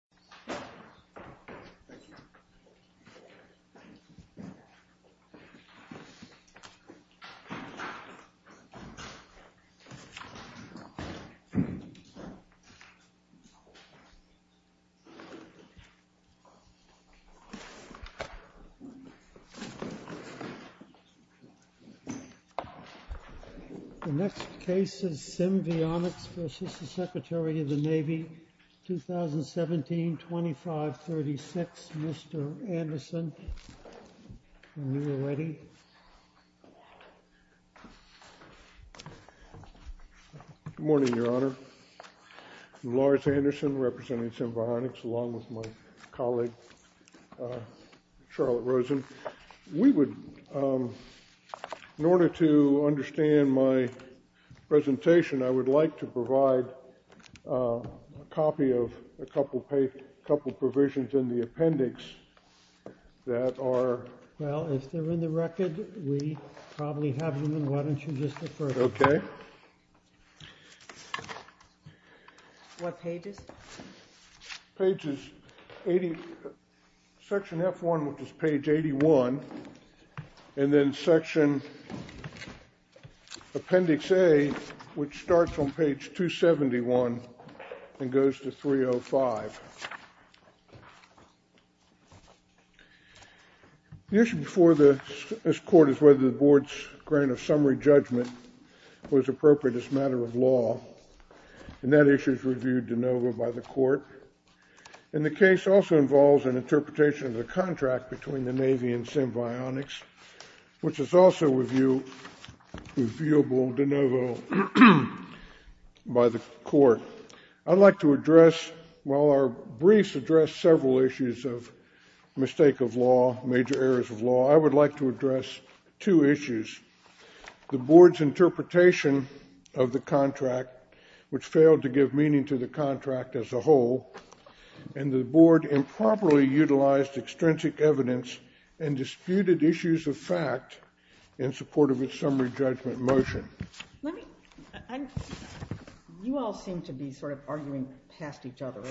The DRAFT OF PRESENTING THE LISTING text of present on the presentation of the worker colleague employee employee on the of the sub front of sub fore front of the fore front But I earlier whereas above all purpose pablo libby Which Is Also Review reviewable De Novo By The Co Court While Our Briefs Address Several Issues Of Mistake Of Law Major Errors Of Law I Would Like To Find Improperly Utilized Extrinsic Evidence And Disputed Issues Of Fact In Support Of Its Summary Judgment Motion You All Seem To Be Arguing Past Each Other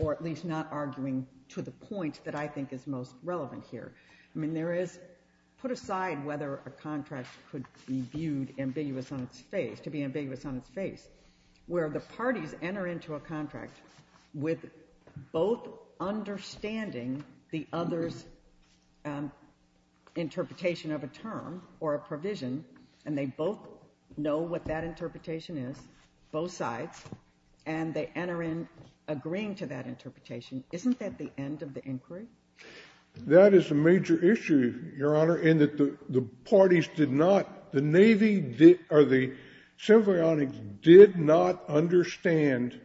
Or At Least Not Arguing To The End Of The Inquiry? That Is A Major Issue Your Honor In That The Parties Did Not The Navy Did Or The Civil Yard Did Not Understand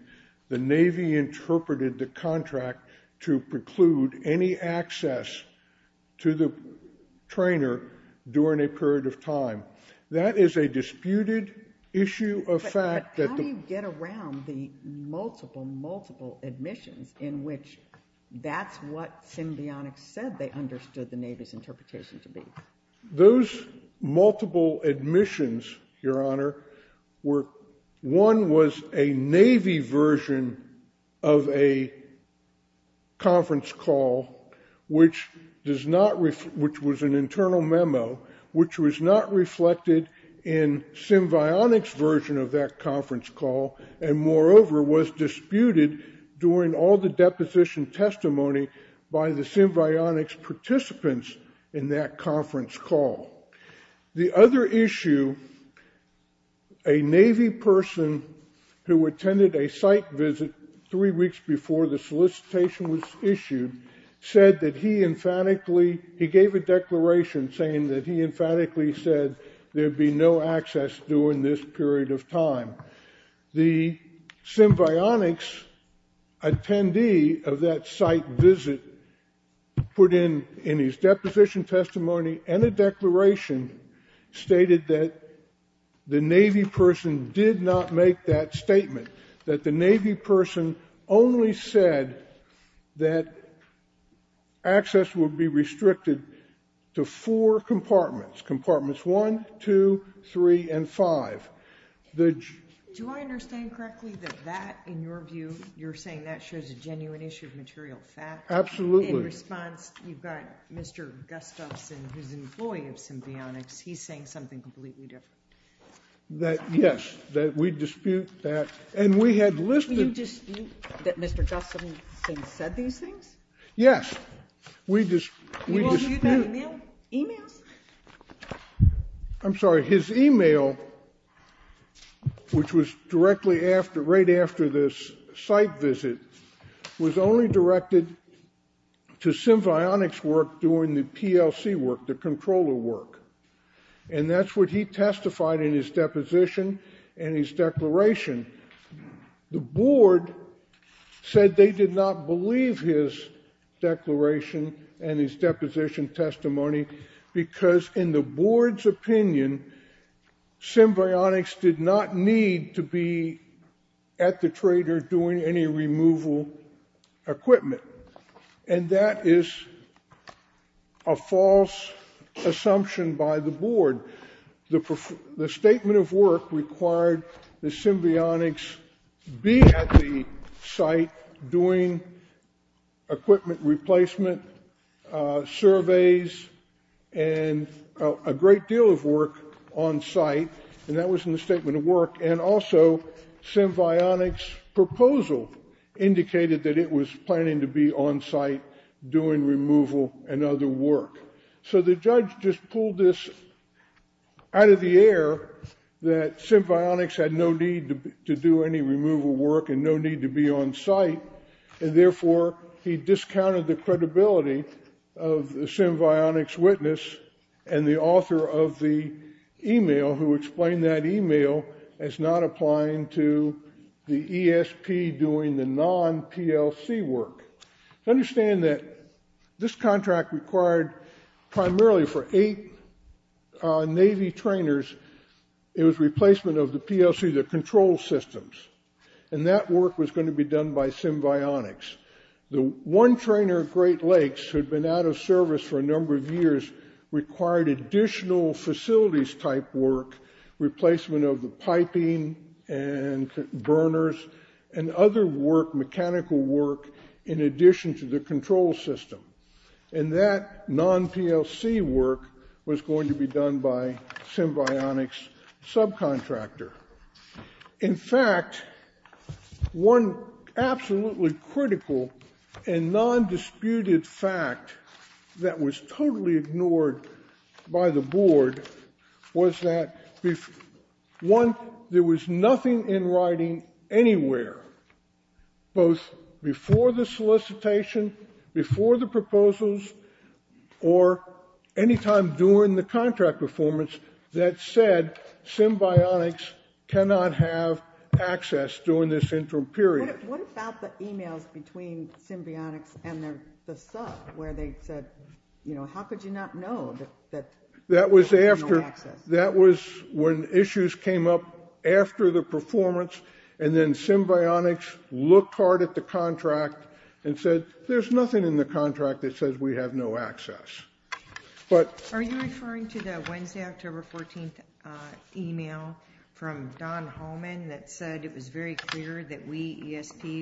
The Navy Interpreted The Contract To Preclude Any Access To The Trainer During A Period Of Time? That Is A Disputed Issue Of Fact? How Do You Get Around The Multiple Admissions In Which That Is What They Said To Be? Those Multiple Admissions Your Honor Were One Was A Navy Version Of A Conference Call Which Was An Internal Memo Which Was Not Reflected In The Conference Call And Moreover Was Disputed During Deposition Testimony By The Participants In That Conference Call? The Other Issue A Navy Person Who Attended A Site Visit Three Weeks Before The Solicitation Was Issued Said That He Emphatically He Gave A Declaration Saying That He Emphatically Said There Would Be No Access During This Period Of Time? The Symbionics Attendee Of That Site Visit Put In His Deposition Testimony And A Declaration Stated That The Navy Person Did Not Make That Statement That The Navy Person Only Said That Access Would Be Restricted To Four Compartments Compartments One, Two, Three, And Five. The? Do I Understand Correctly That That In Your You Are Saying That Shows A Genuine Issue Of Material Fact? Absolutely. In Response, You Have Mr. Gustafson, Who Is An Employee Of Symbionics, He Is Saying Something Completely Different. Yes. We Dispute That. And We Had Listed? You Dispute That Mr. Gustafson Said These Things? Yes. We Dispute? Emails? I'm Sorry. His Email, Which Was Directly After This Site Visit, Was Only Directed To Symbionics Work Doing The PLC Work, The Controller Work. And That's What He Testified In His Deposition And His Declaration. The Board Said They Did Not Believe His Declaration And His Deposition Testimony Because In The Board's Opinion, Symbionics Did Not Need To Be At The Trader Doing Any Removal Equipment. And That Is A False Assumption By The Board. The Statement Of Work Required The Symbionics Be At The Site Doing Equipment Replacement Surveys And A Great Deal Of Work On Site. And That Was In The Statement Of Work. And Also, Symbionics' Proposal Indicated That It Was Planning To Be On Site Doing Removal And Other Work. So The Judge Just Pulled This Out Of The Air That Symbionics Had No Need To Do Any Removal Work And No Need To Be On Site. And Therefore, He Discounted The Credibility Of The Symbionics Witness And The Author Of The Email Who Explained That Email As Not Applying To The ESP Doing The Non-PLC Work. Understand That This Contract Required Primarily For Eight Navy Trainers It Was Replacement Of The PLC Control Systems. And That Work Was Going To Be Done By Symbionics. The One Trainer Great Lakes Had Been Out Of The For A Long Time. And That Non-PLC Work Was Going To Be Done By Symbionics Subcontractor. In Fact, One Absolutely Critical And Non-Disputed Fact That Was Totally Ignored By The Board Was That One, There Was Nothing In Writing Anywhere Both Before The Solicitation, Before The Proposals, Or Anytime During The Contract Performance That Said Symbionics Cannot Have Access During This Interim Period. What About The Emails Between Symbionics And The Sub Where They Said How Could You Not Know That That Was After That Was When Issues Came Up After The Performance And Then Symbionics Looked Hard At The Contract And Said There Is Nothing In The Contract That Says We Have No Access. Are You Referring To The October 14th Email From Don Holman That Said It Was Very Clear That We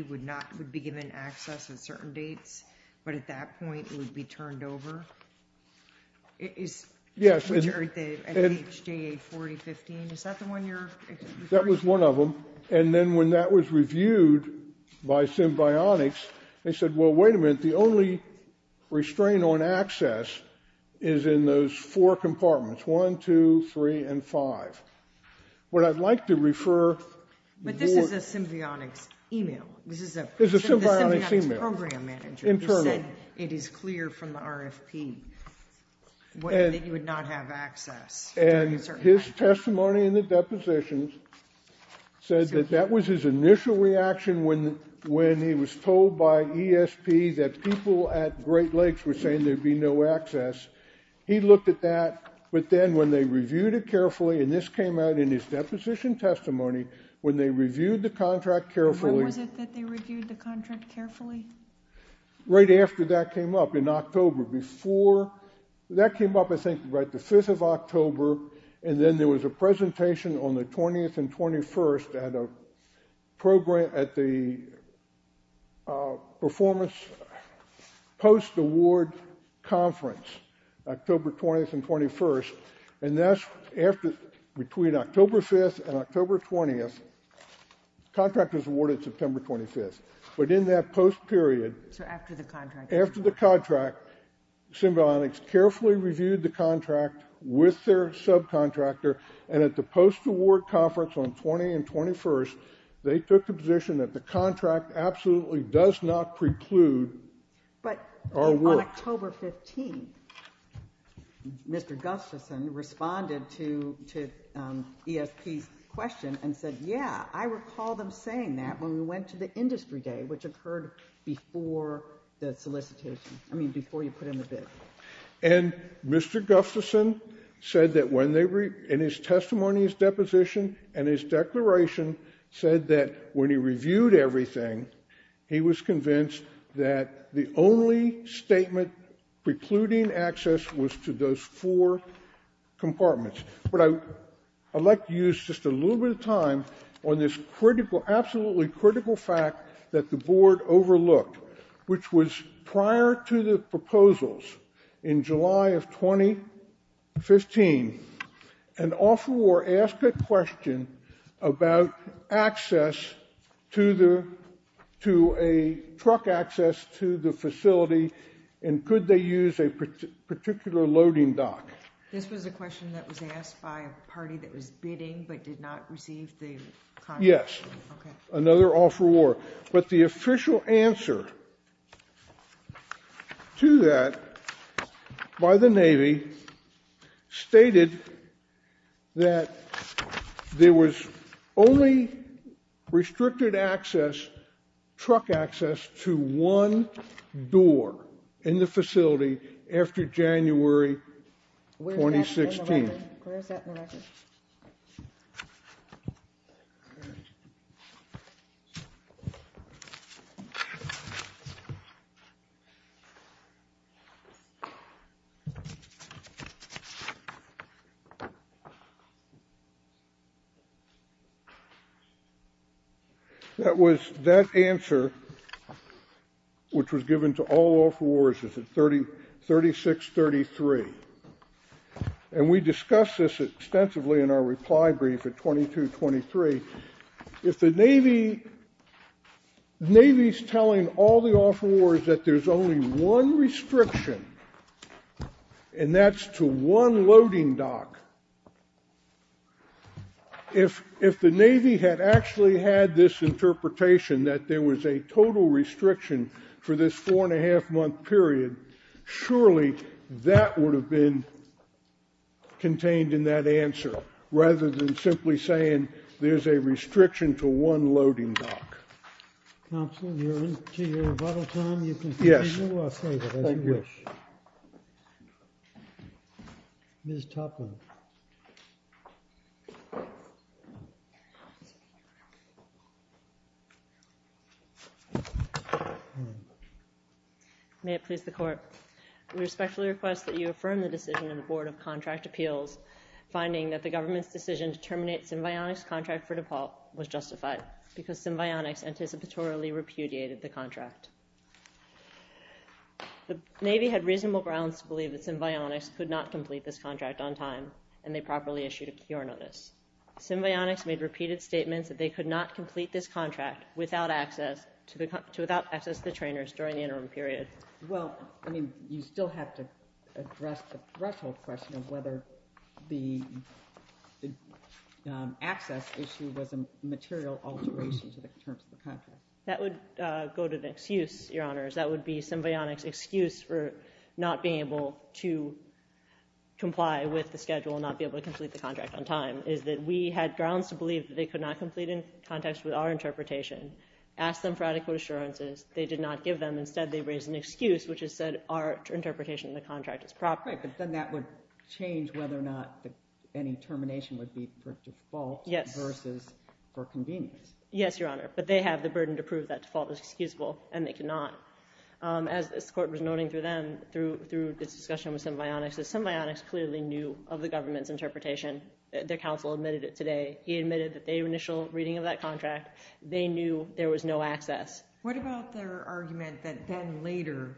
Would Be Given Access At Certain Dates But At That Point It Would Be Turned Over. Is That The One You Are Referring To? That Was One Of Them. And Then When That Was Reviewed By Symbionics They Said Wait A Minute. The Only Restraint On Access Is In Those Four Compartments. One, Two, Three, And Five. What I Would Like To Refer But This Is A Symbionics Email. It Is Clear From The RFP That You Would Not Have Access. And His Testimony In The Deposition Said That That Was His Initial Reaction When He Was Told By ESP That People At Great Lakes Were Saying There Would Be No Access. He Looked At That. But Then When They Reviewed It Carefully And This Came Out In His Deposition Testimony When They Reviewed The Contract Carefully, Right After That Came Up In October. Before That Came Up I Think About The Fifth Of October And Then There Was A Presentation On The 20th And 21st At The Performance Post Award Conference. October 20th And 21st. And That's After Between October 5th And October 20th Contractors Awarded September 25th. But In That Post Period After The Contract Symbionics Carefully Reviewed The Contract With Their Subcontractor And At The Post Award Conference On 20 And 21st They Took The Position That The Contract Absolutely Does Not Preclude But On October 15th Mr. Gustafson Responded ESP's Question And Said Yeah I Recall Them Saying That When We Went To The Industry Day Which Occurred Before The Solicitation. I Mean Before You Put In The Bid. And Mr. Gustafson Said That When They In His Testimony His Deposition And His Declaration Said That When He Reviewed Everything He Was Convinced That The Only Statement Precluding Access Was To Those Four Compartments. But I'd Like To Use Just A Little Time On This Critical Absolutely Critical Fact That The Board Overlooked Which Was Prior To The Proposals In July Of 2015 And Offer Or Ask A Question About Access To The To A Particular Loading Dock. This Was A Question That Was Asked By A Party That Was Bidding But Did Not Receive The Yes. Another Offer Or But The Official Answer To That By The Navy Stated That There Was Only Restricted Access Truck Access To One Door In The Facility After January 2016. That Was The Answer Which Was Given To All Offer Wars Is 3633. And We Discussed This Extensively In Our Reply Brief At 2223. If The Navy Is Telling All The Offer Wars That There Is Only One Restriction And That Is To One Loading Dock. If The Navy Had Actually Had This Interpretation That There Was A Total Restriction For This Four And A Half Month Period, Surely That Would Have Been Contained In That Answer Rather Than Simply Saying There Is A Restriction To One Loading Dock. Was My Last Question. Thank you. You Are Into Your Revital Time. If You Can Continue I Will Save It As You Wish. Ms. Topline. May It Please The Court. We Respectfully Request That You Affirm The Decision Of The Court. The Navy Had Reasonable Grounds To Believe That They Could Not Complete This Contract On Time And They Properly Issued A Cure Notice. They Could Not Complete This Contract Without Access To The Trainers During The Interim Period. Well, I mean, you still have to address the threshold question of whether the access issue was a material alteration to the terms of the contract. That would go to the excuse, Your Honors. That would be symbionic excuse for not being able to comply with the schedule and not be able to complete the contract on time. We had grounds to believe they could not complete in context with our interpretation. Asked them for adequate assurances. They did not give them. Instead they raised an excuse which said our interpretation of the contract is proper. Right, but then that would change whether or not any termination would be for default versus for convenience. Yes, Your Honor, but they have the burden to prove that default is excusable and they cannot. As the Court was noting through them, through this discussion with Symbionics, Symbionics clearly knew of the government's interpretation. Their counsel admitted it today. He admitted the initial reading of that contract. They knew there was no access. What about their argument that then later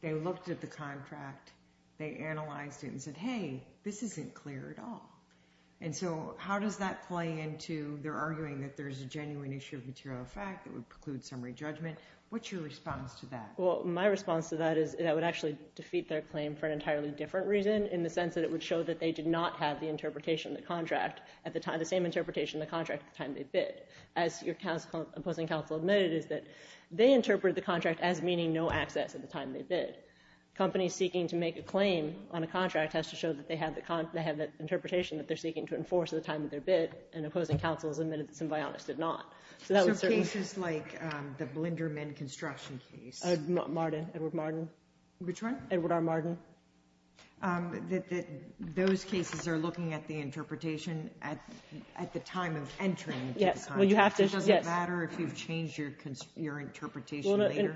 they looked at the contract, they analyzed it and said hey, this isn't clear at all. And so how does that play into their interpretation Well, that's a slightly different reason in the sense that it would show that they did not have the interpretation of the contract at the time they bid. As your opposing counsel admitted, they interpreted the contract as meaning no access at the time they bid. Companies seeking to make a claim on a contract have to show they have the interpretation at the time they bid. So cases like the Blinderman construction case, Edward R. Martin, those cases are looking at the interpretation at the time of entering the contract. Does it mean that companies seeking to enforce the contract at the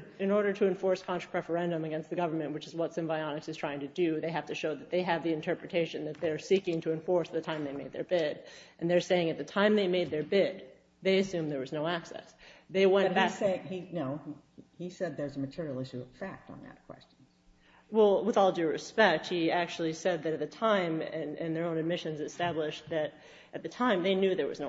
time they bid assume there was no access? No, he said there's a material issue of fact on that question. Well, with all due respect, he actually said that at the time they knew there was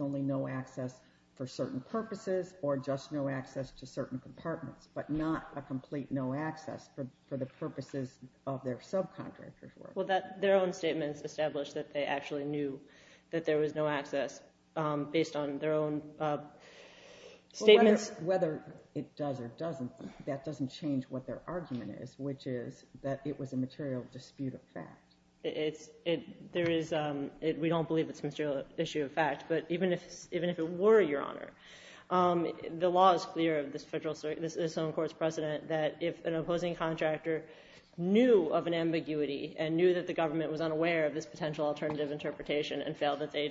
only no access for certain purposes or just no access to certain compartments, but not a complete no access for the purposes of their subcontractors. Well, their own statements established that they actually knew that there was no access based on their own statements. Whether it does or doesn't, that doesn't change what their argument is, which is that it was a material dispute of fact. We don't believe it's a material issue of fact, but even if it were, Your Honor, the law is clear of this federal court's precedent that if an opposing contractor knew of an ambiguity and knew that the government was fully unaware of this alternative interpretation, they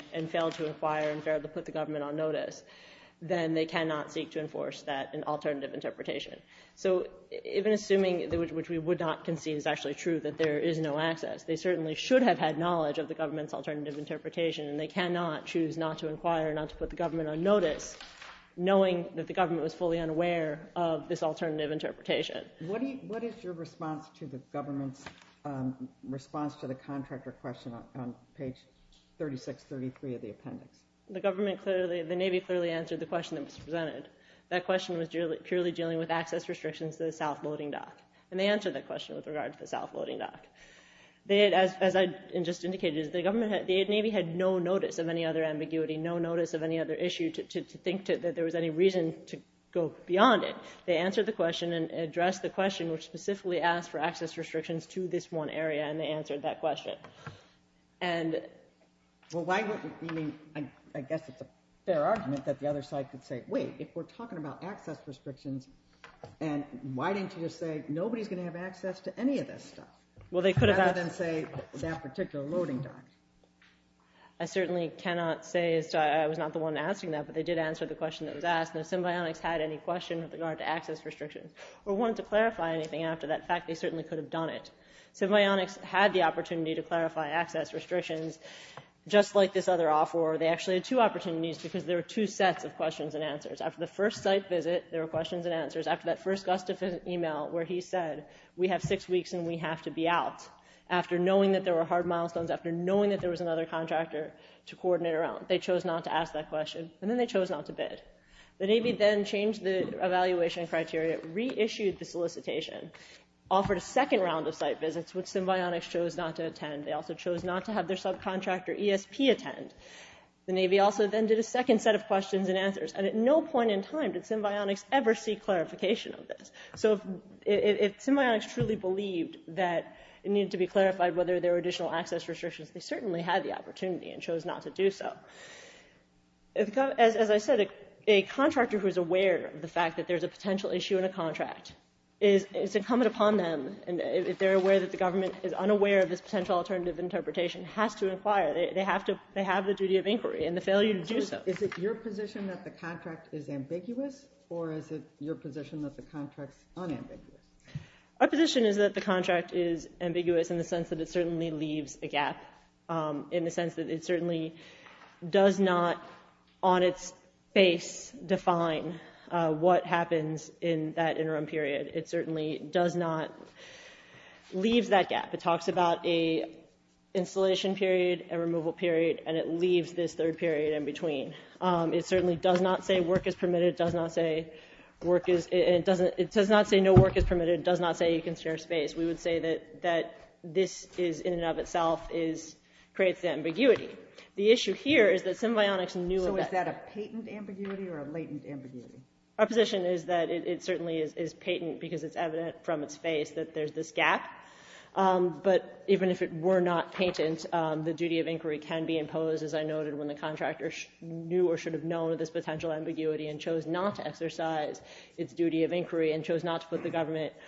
certainly should have had knowledge of the government's alternative interpretation, and they cannot choose not to inquire, not to put the government on notice, knowing that the government was fully unaware of this alternative interpretation. What is your response to the government's response to the contractor question on page 3633 of the appendix? The government clearly, the Navy clearly answered the question that was presented. That question was purely dealing with access restrictions to the south loading dock, and they answered that question with regard to the south loading dock. As I just indicated, the Navy had no notice of any other ambiguity, no notice of any other issue to think that there was any reason to go beyond it. They answered the question and addressed the question which specifically asked for access restrictions to this one area, and they answered that question. And well, why wouldn't you mean, I guess it's a fair argument that the other side could say, wait, if we're talking about access restrictions, and why didn't you just say nobody's going to have access to any of this stuff, rather than say that particular loading dock? I certainly cannot say that. I was not the one asking that, but they the question that was asked, and if Symbionics had any question with regard to access restrictions or wanted to clarify anything after that fact, they certainly could have done it. Symbionics had the opportunity to clarify access restrictions just like this other offer. They actually had two opportunities because there were two sets of questions and answers. After the first site visit, there were questions and answers. After that first email where he said we have six weeks and we have to be out, after knowing that there were hard milestones, after knowing that there was another contractor to coordinate around, they chose not to ask that question, and then they chose not to bid. The Navy then changed the evaluation criteria, reissued the solicitation, offered a second round of site visits which Symbionics chose not to attend. They also chose not to have their subcontractor ESP attend. The Navy also then did a second set of questions and answers, and at no point in time did Symbionics ever see clarification of this. So if Symbionics truly believed that it needed to be clarified whether there were additional access restrictions, they certainly had the opportunity and chose not to do so. As I said, a contractor who is aware of the fact that there's a potential issue in a contract is incumbent upon them, if they're aware that the government is unaware of this potential alternative interpretation, has to inquire. They have the duty of inquiry and the failure to do so. Is it your position that the contract is ambiguous or is it your position that the contract is unambiguous? Our position is that the contract is ambiguous in the sense that it certainly leaves a gap. In the sense that it certainly does not on its face define what happens in that interim period. It certainly does not leave that gap. It talks about an installation period and does not say you can share space. We would say that this in and of itself creates ambiguity. The issue here is that symbionics knew that. Is that a patent ambiguity or a latent ambiguity? Our position is that it is patent because it is evident from its face that there is this gap. But even if it were not patent, the duty of inquiry can be imposed as I noted when the contractor knew or should have known this potential ambiguity and chose not to exercise its duty of inquiry and chose not to put the patent in question.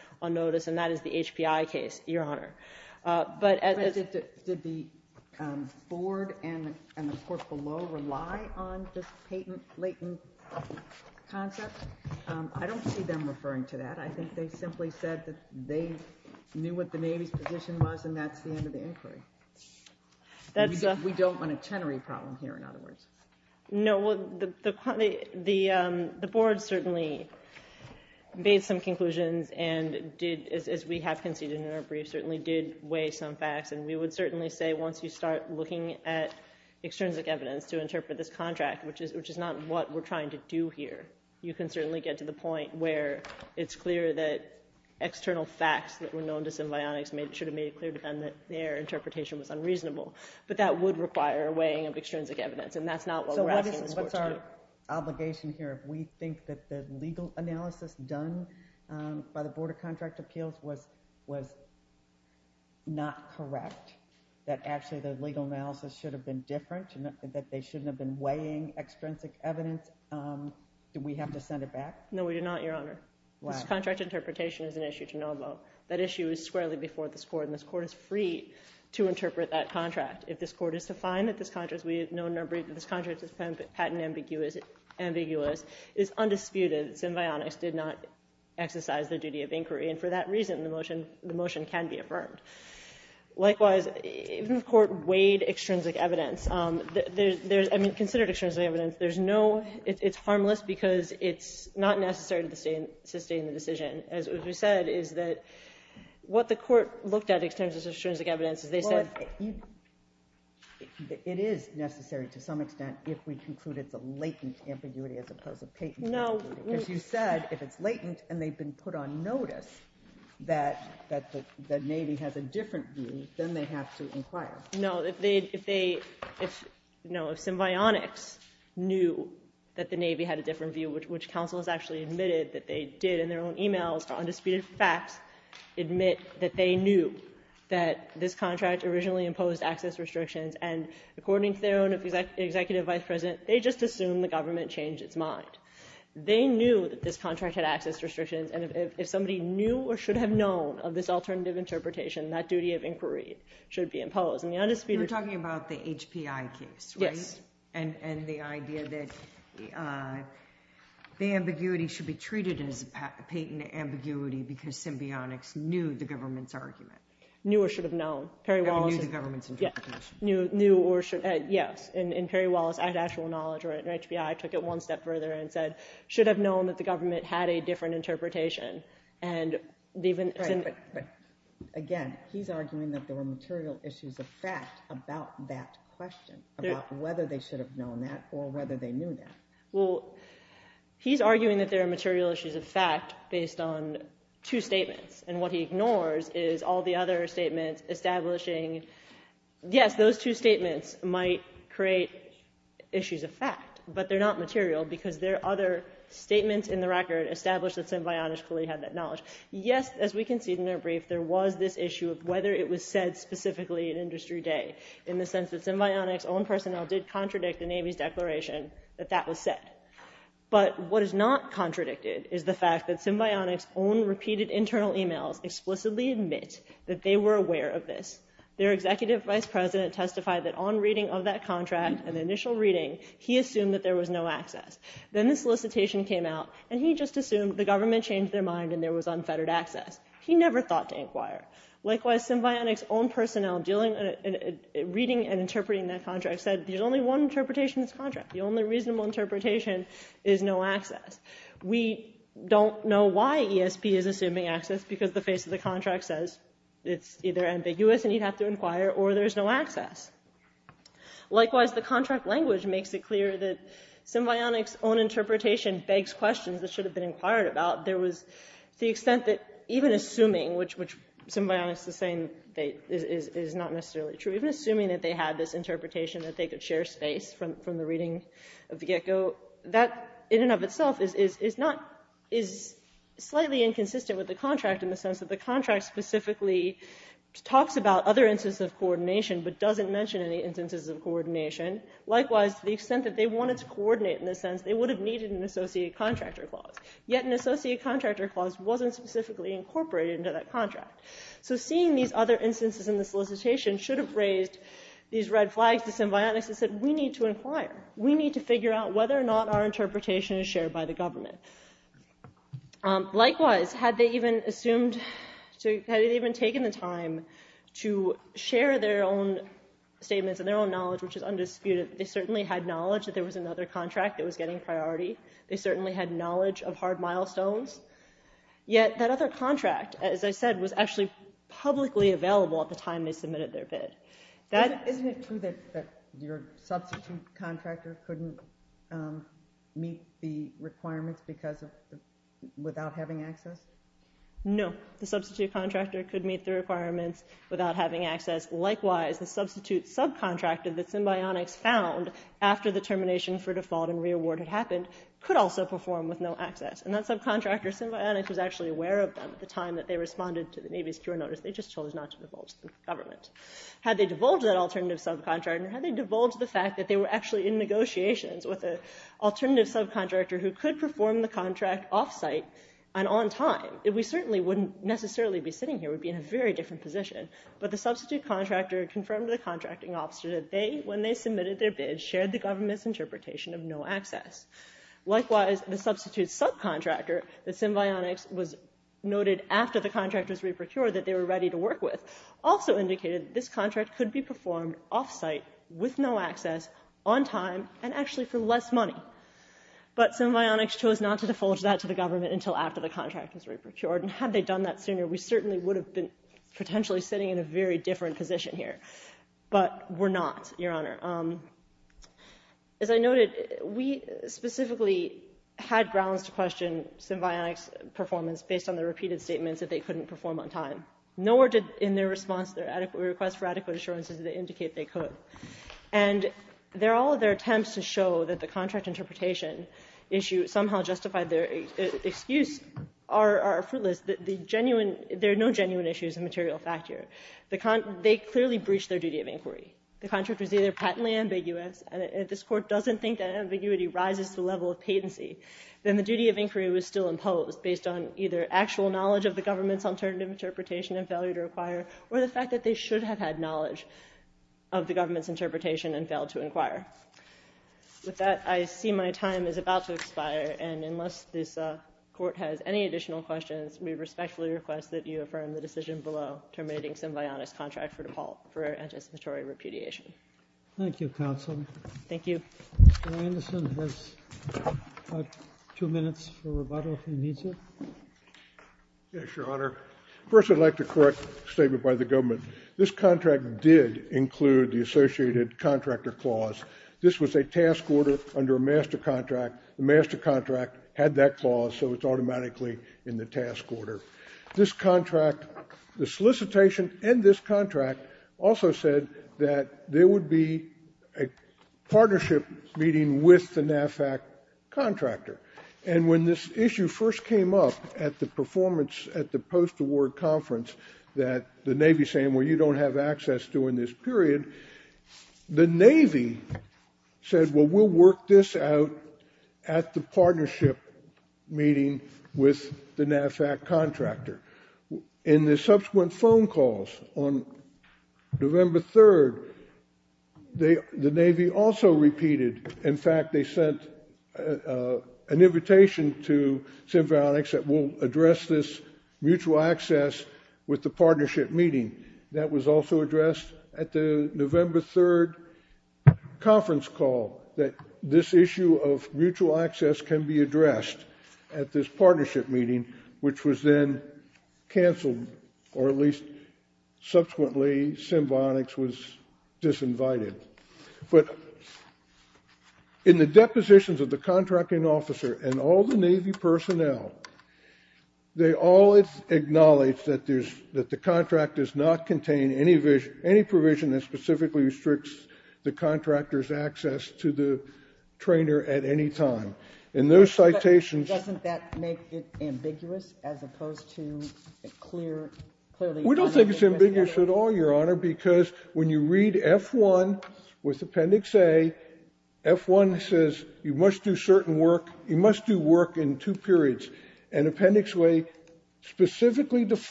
We don't want a tenery problem here. The board certainly made some conclusions and did weigh some facts. We would certainly say once you start looking at this issue, there is a order under a master contract. The master contract had that clause so it is automatically in the task order. The solicitation and this contract also said that there would be a partnership meeting with the contractor. When this issue first came up at the post-award conference, the Navy saying you don't have access during this period, the Navy said we will work this out at the partnership meeting with the contractor. In the subsequent phone calls on November 3rd, the Navy also repeated in fact they sent an invitation to symbiotics that will address this mutual access with the partnership meeting. That was also addressed at the November 3rd conference call. This issue of mutual access can be addressed at this partnership meeting which was then canceled or at least subsequently symbiotics was disinvited. In the depositions of the contracting officer and all the Navy personnel, they all acknowledge that the contract does not contain any provision that specifically restricts the contractor's access to the trainer at any time. In those citations Doesn't that make it ambiguous as opposed to clear We don't think it's ambiguous at all because when you read F1 with appendix A, F1 says you must do work in two periods. And appendix A specifically defines the work to be done in those two periods and leaves the vast majority of work to be done at any time during the contract. So we don't think F1 was ambiguous at all. And the only I'd like to give you the site. In appellate's main brief at pages 12 and 34, we cite all the deposition testimony where the Navy acknowledged that there's nothing that says you can't have access. Also, Symbionic's attendee at the site visit testified and submitted declarations, and that's in appendix 1733 to 1736, 1627 to 1632, and then 2165, 2168, that his handwritten notes and the information that he got at the site visit was only there would be restrictions to four specific compartments. The handout at the site visit, appendix starts in appendix 858, and in that appendix at 872, 873, and 874, only the appendix was listed. Only those, the work, again, that was in appendix A, for those, primarily for those four compartments, one, two, three, and five, those are the only things that are listed, and there is nothing in this handout that indicates there's a blanket restriction. Moreover, it has to be observed and as Thank you. Thank you. If there's any questions of the public, we'll start the hearing tomorrow. So, if there are any questions at all, please ask them Thank you.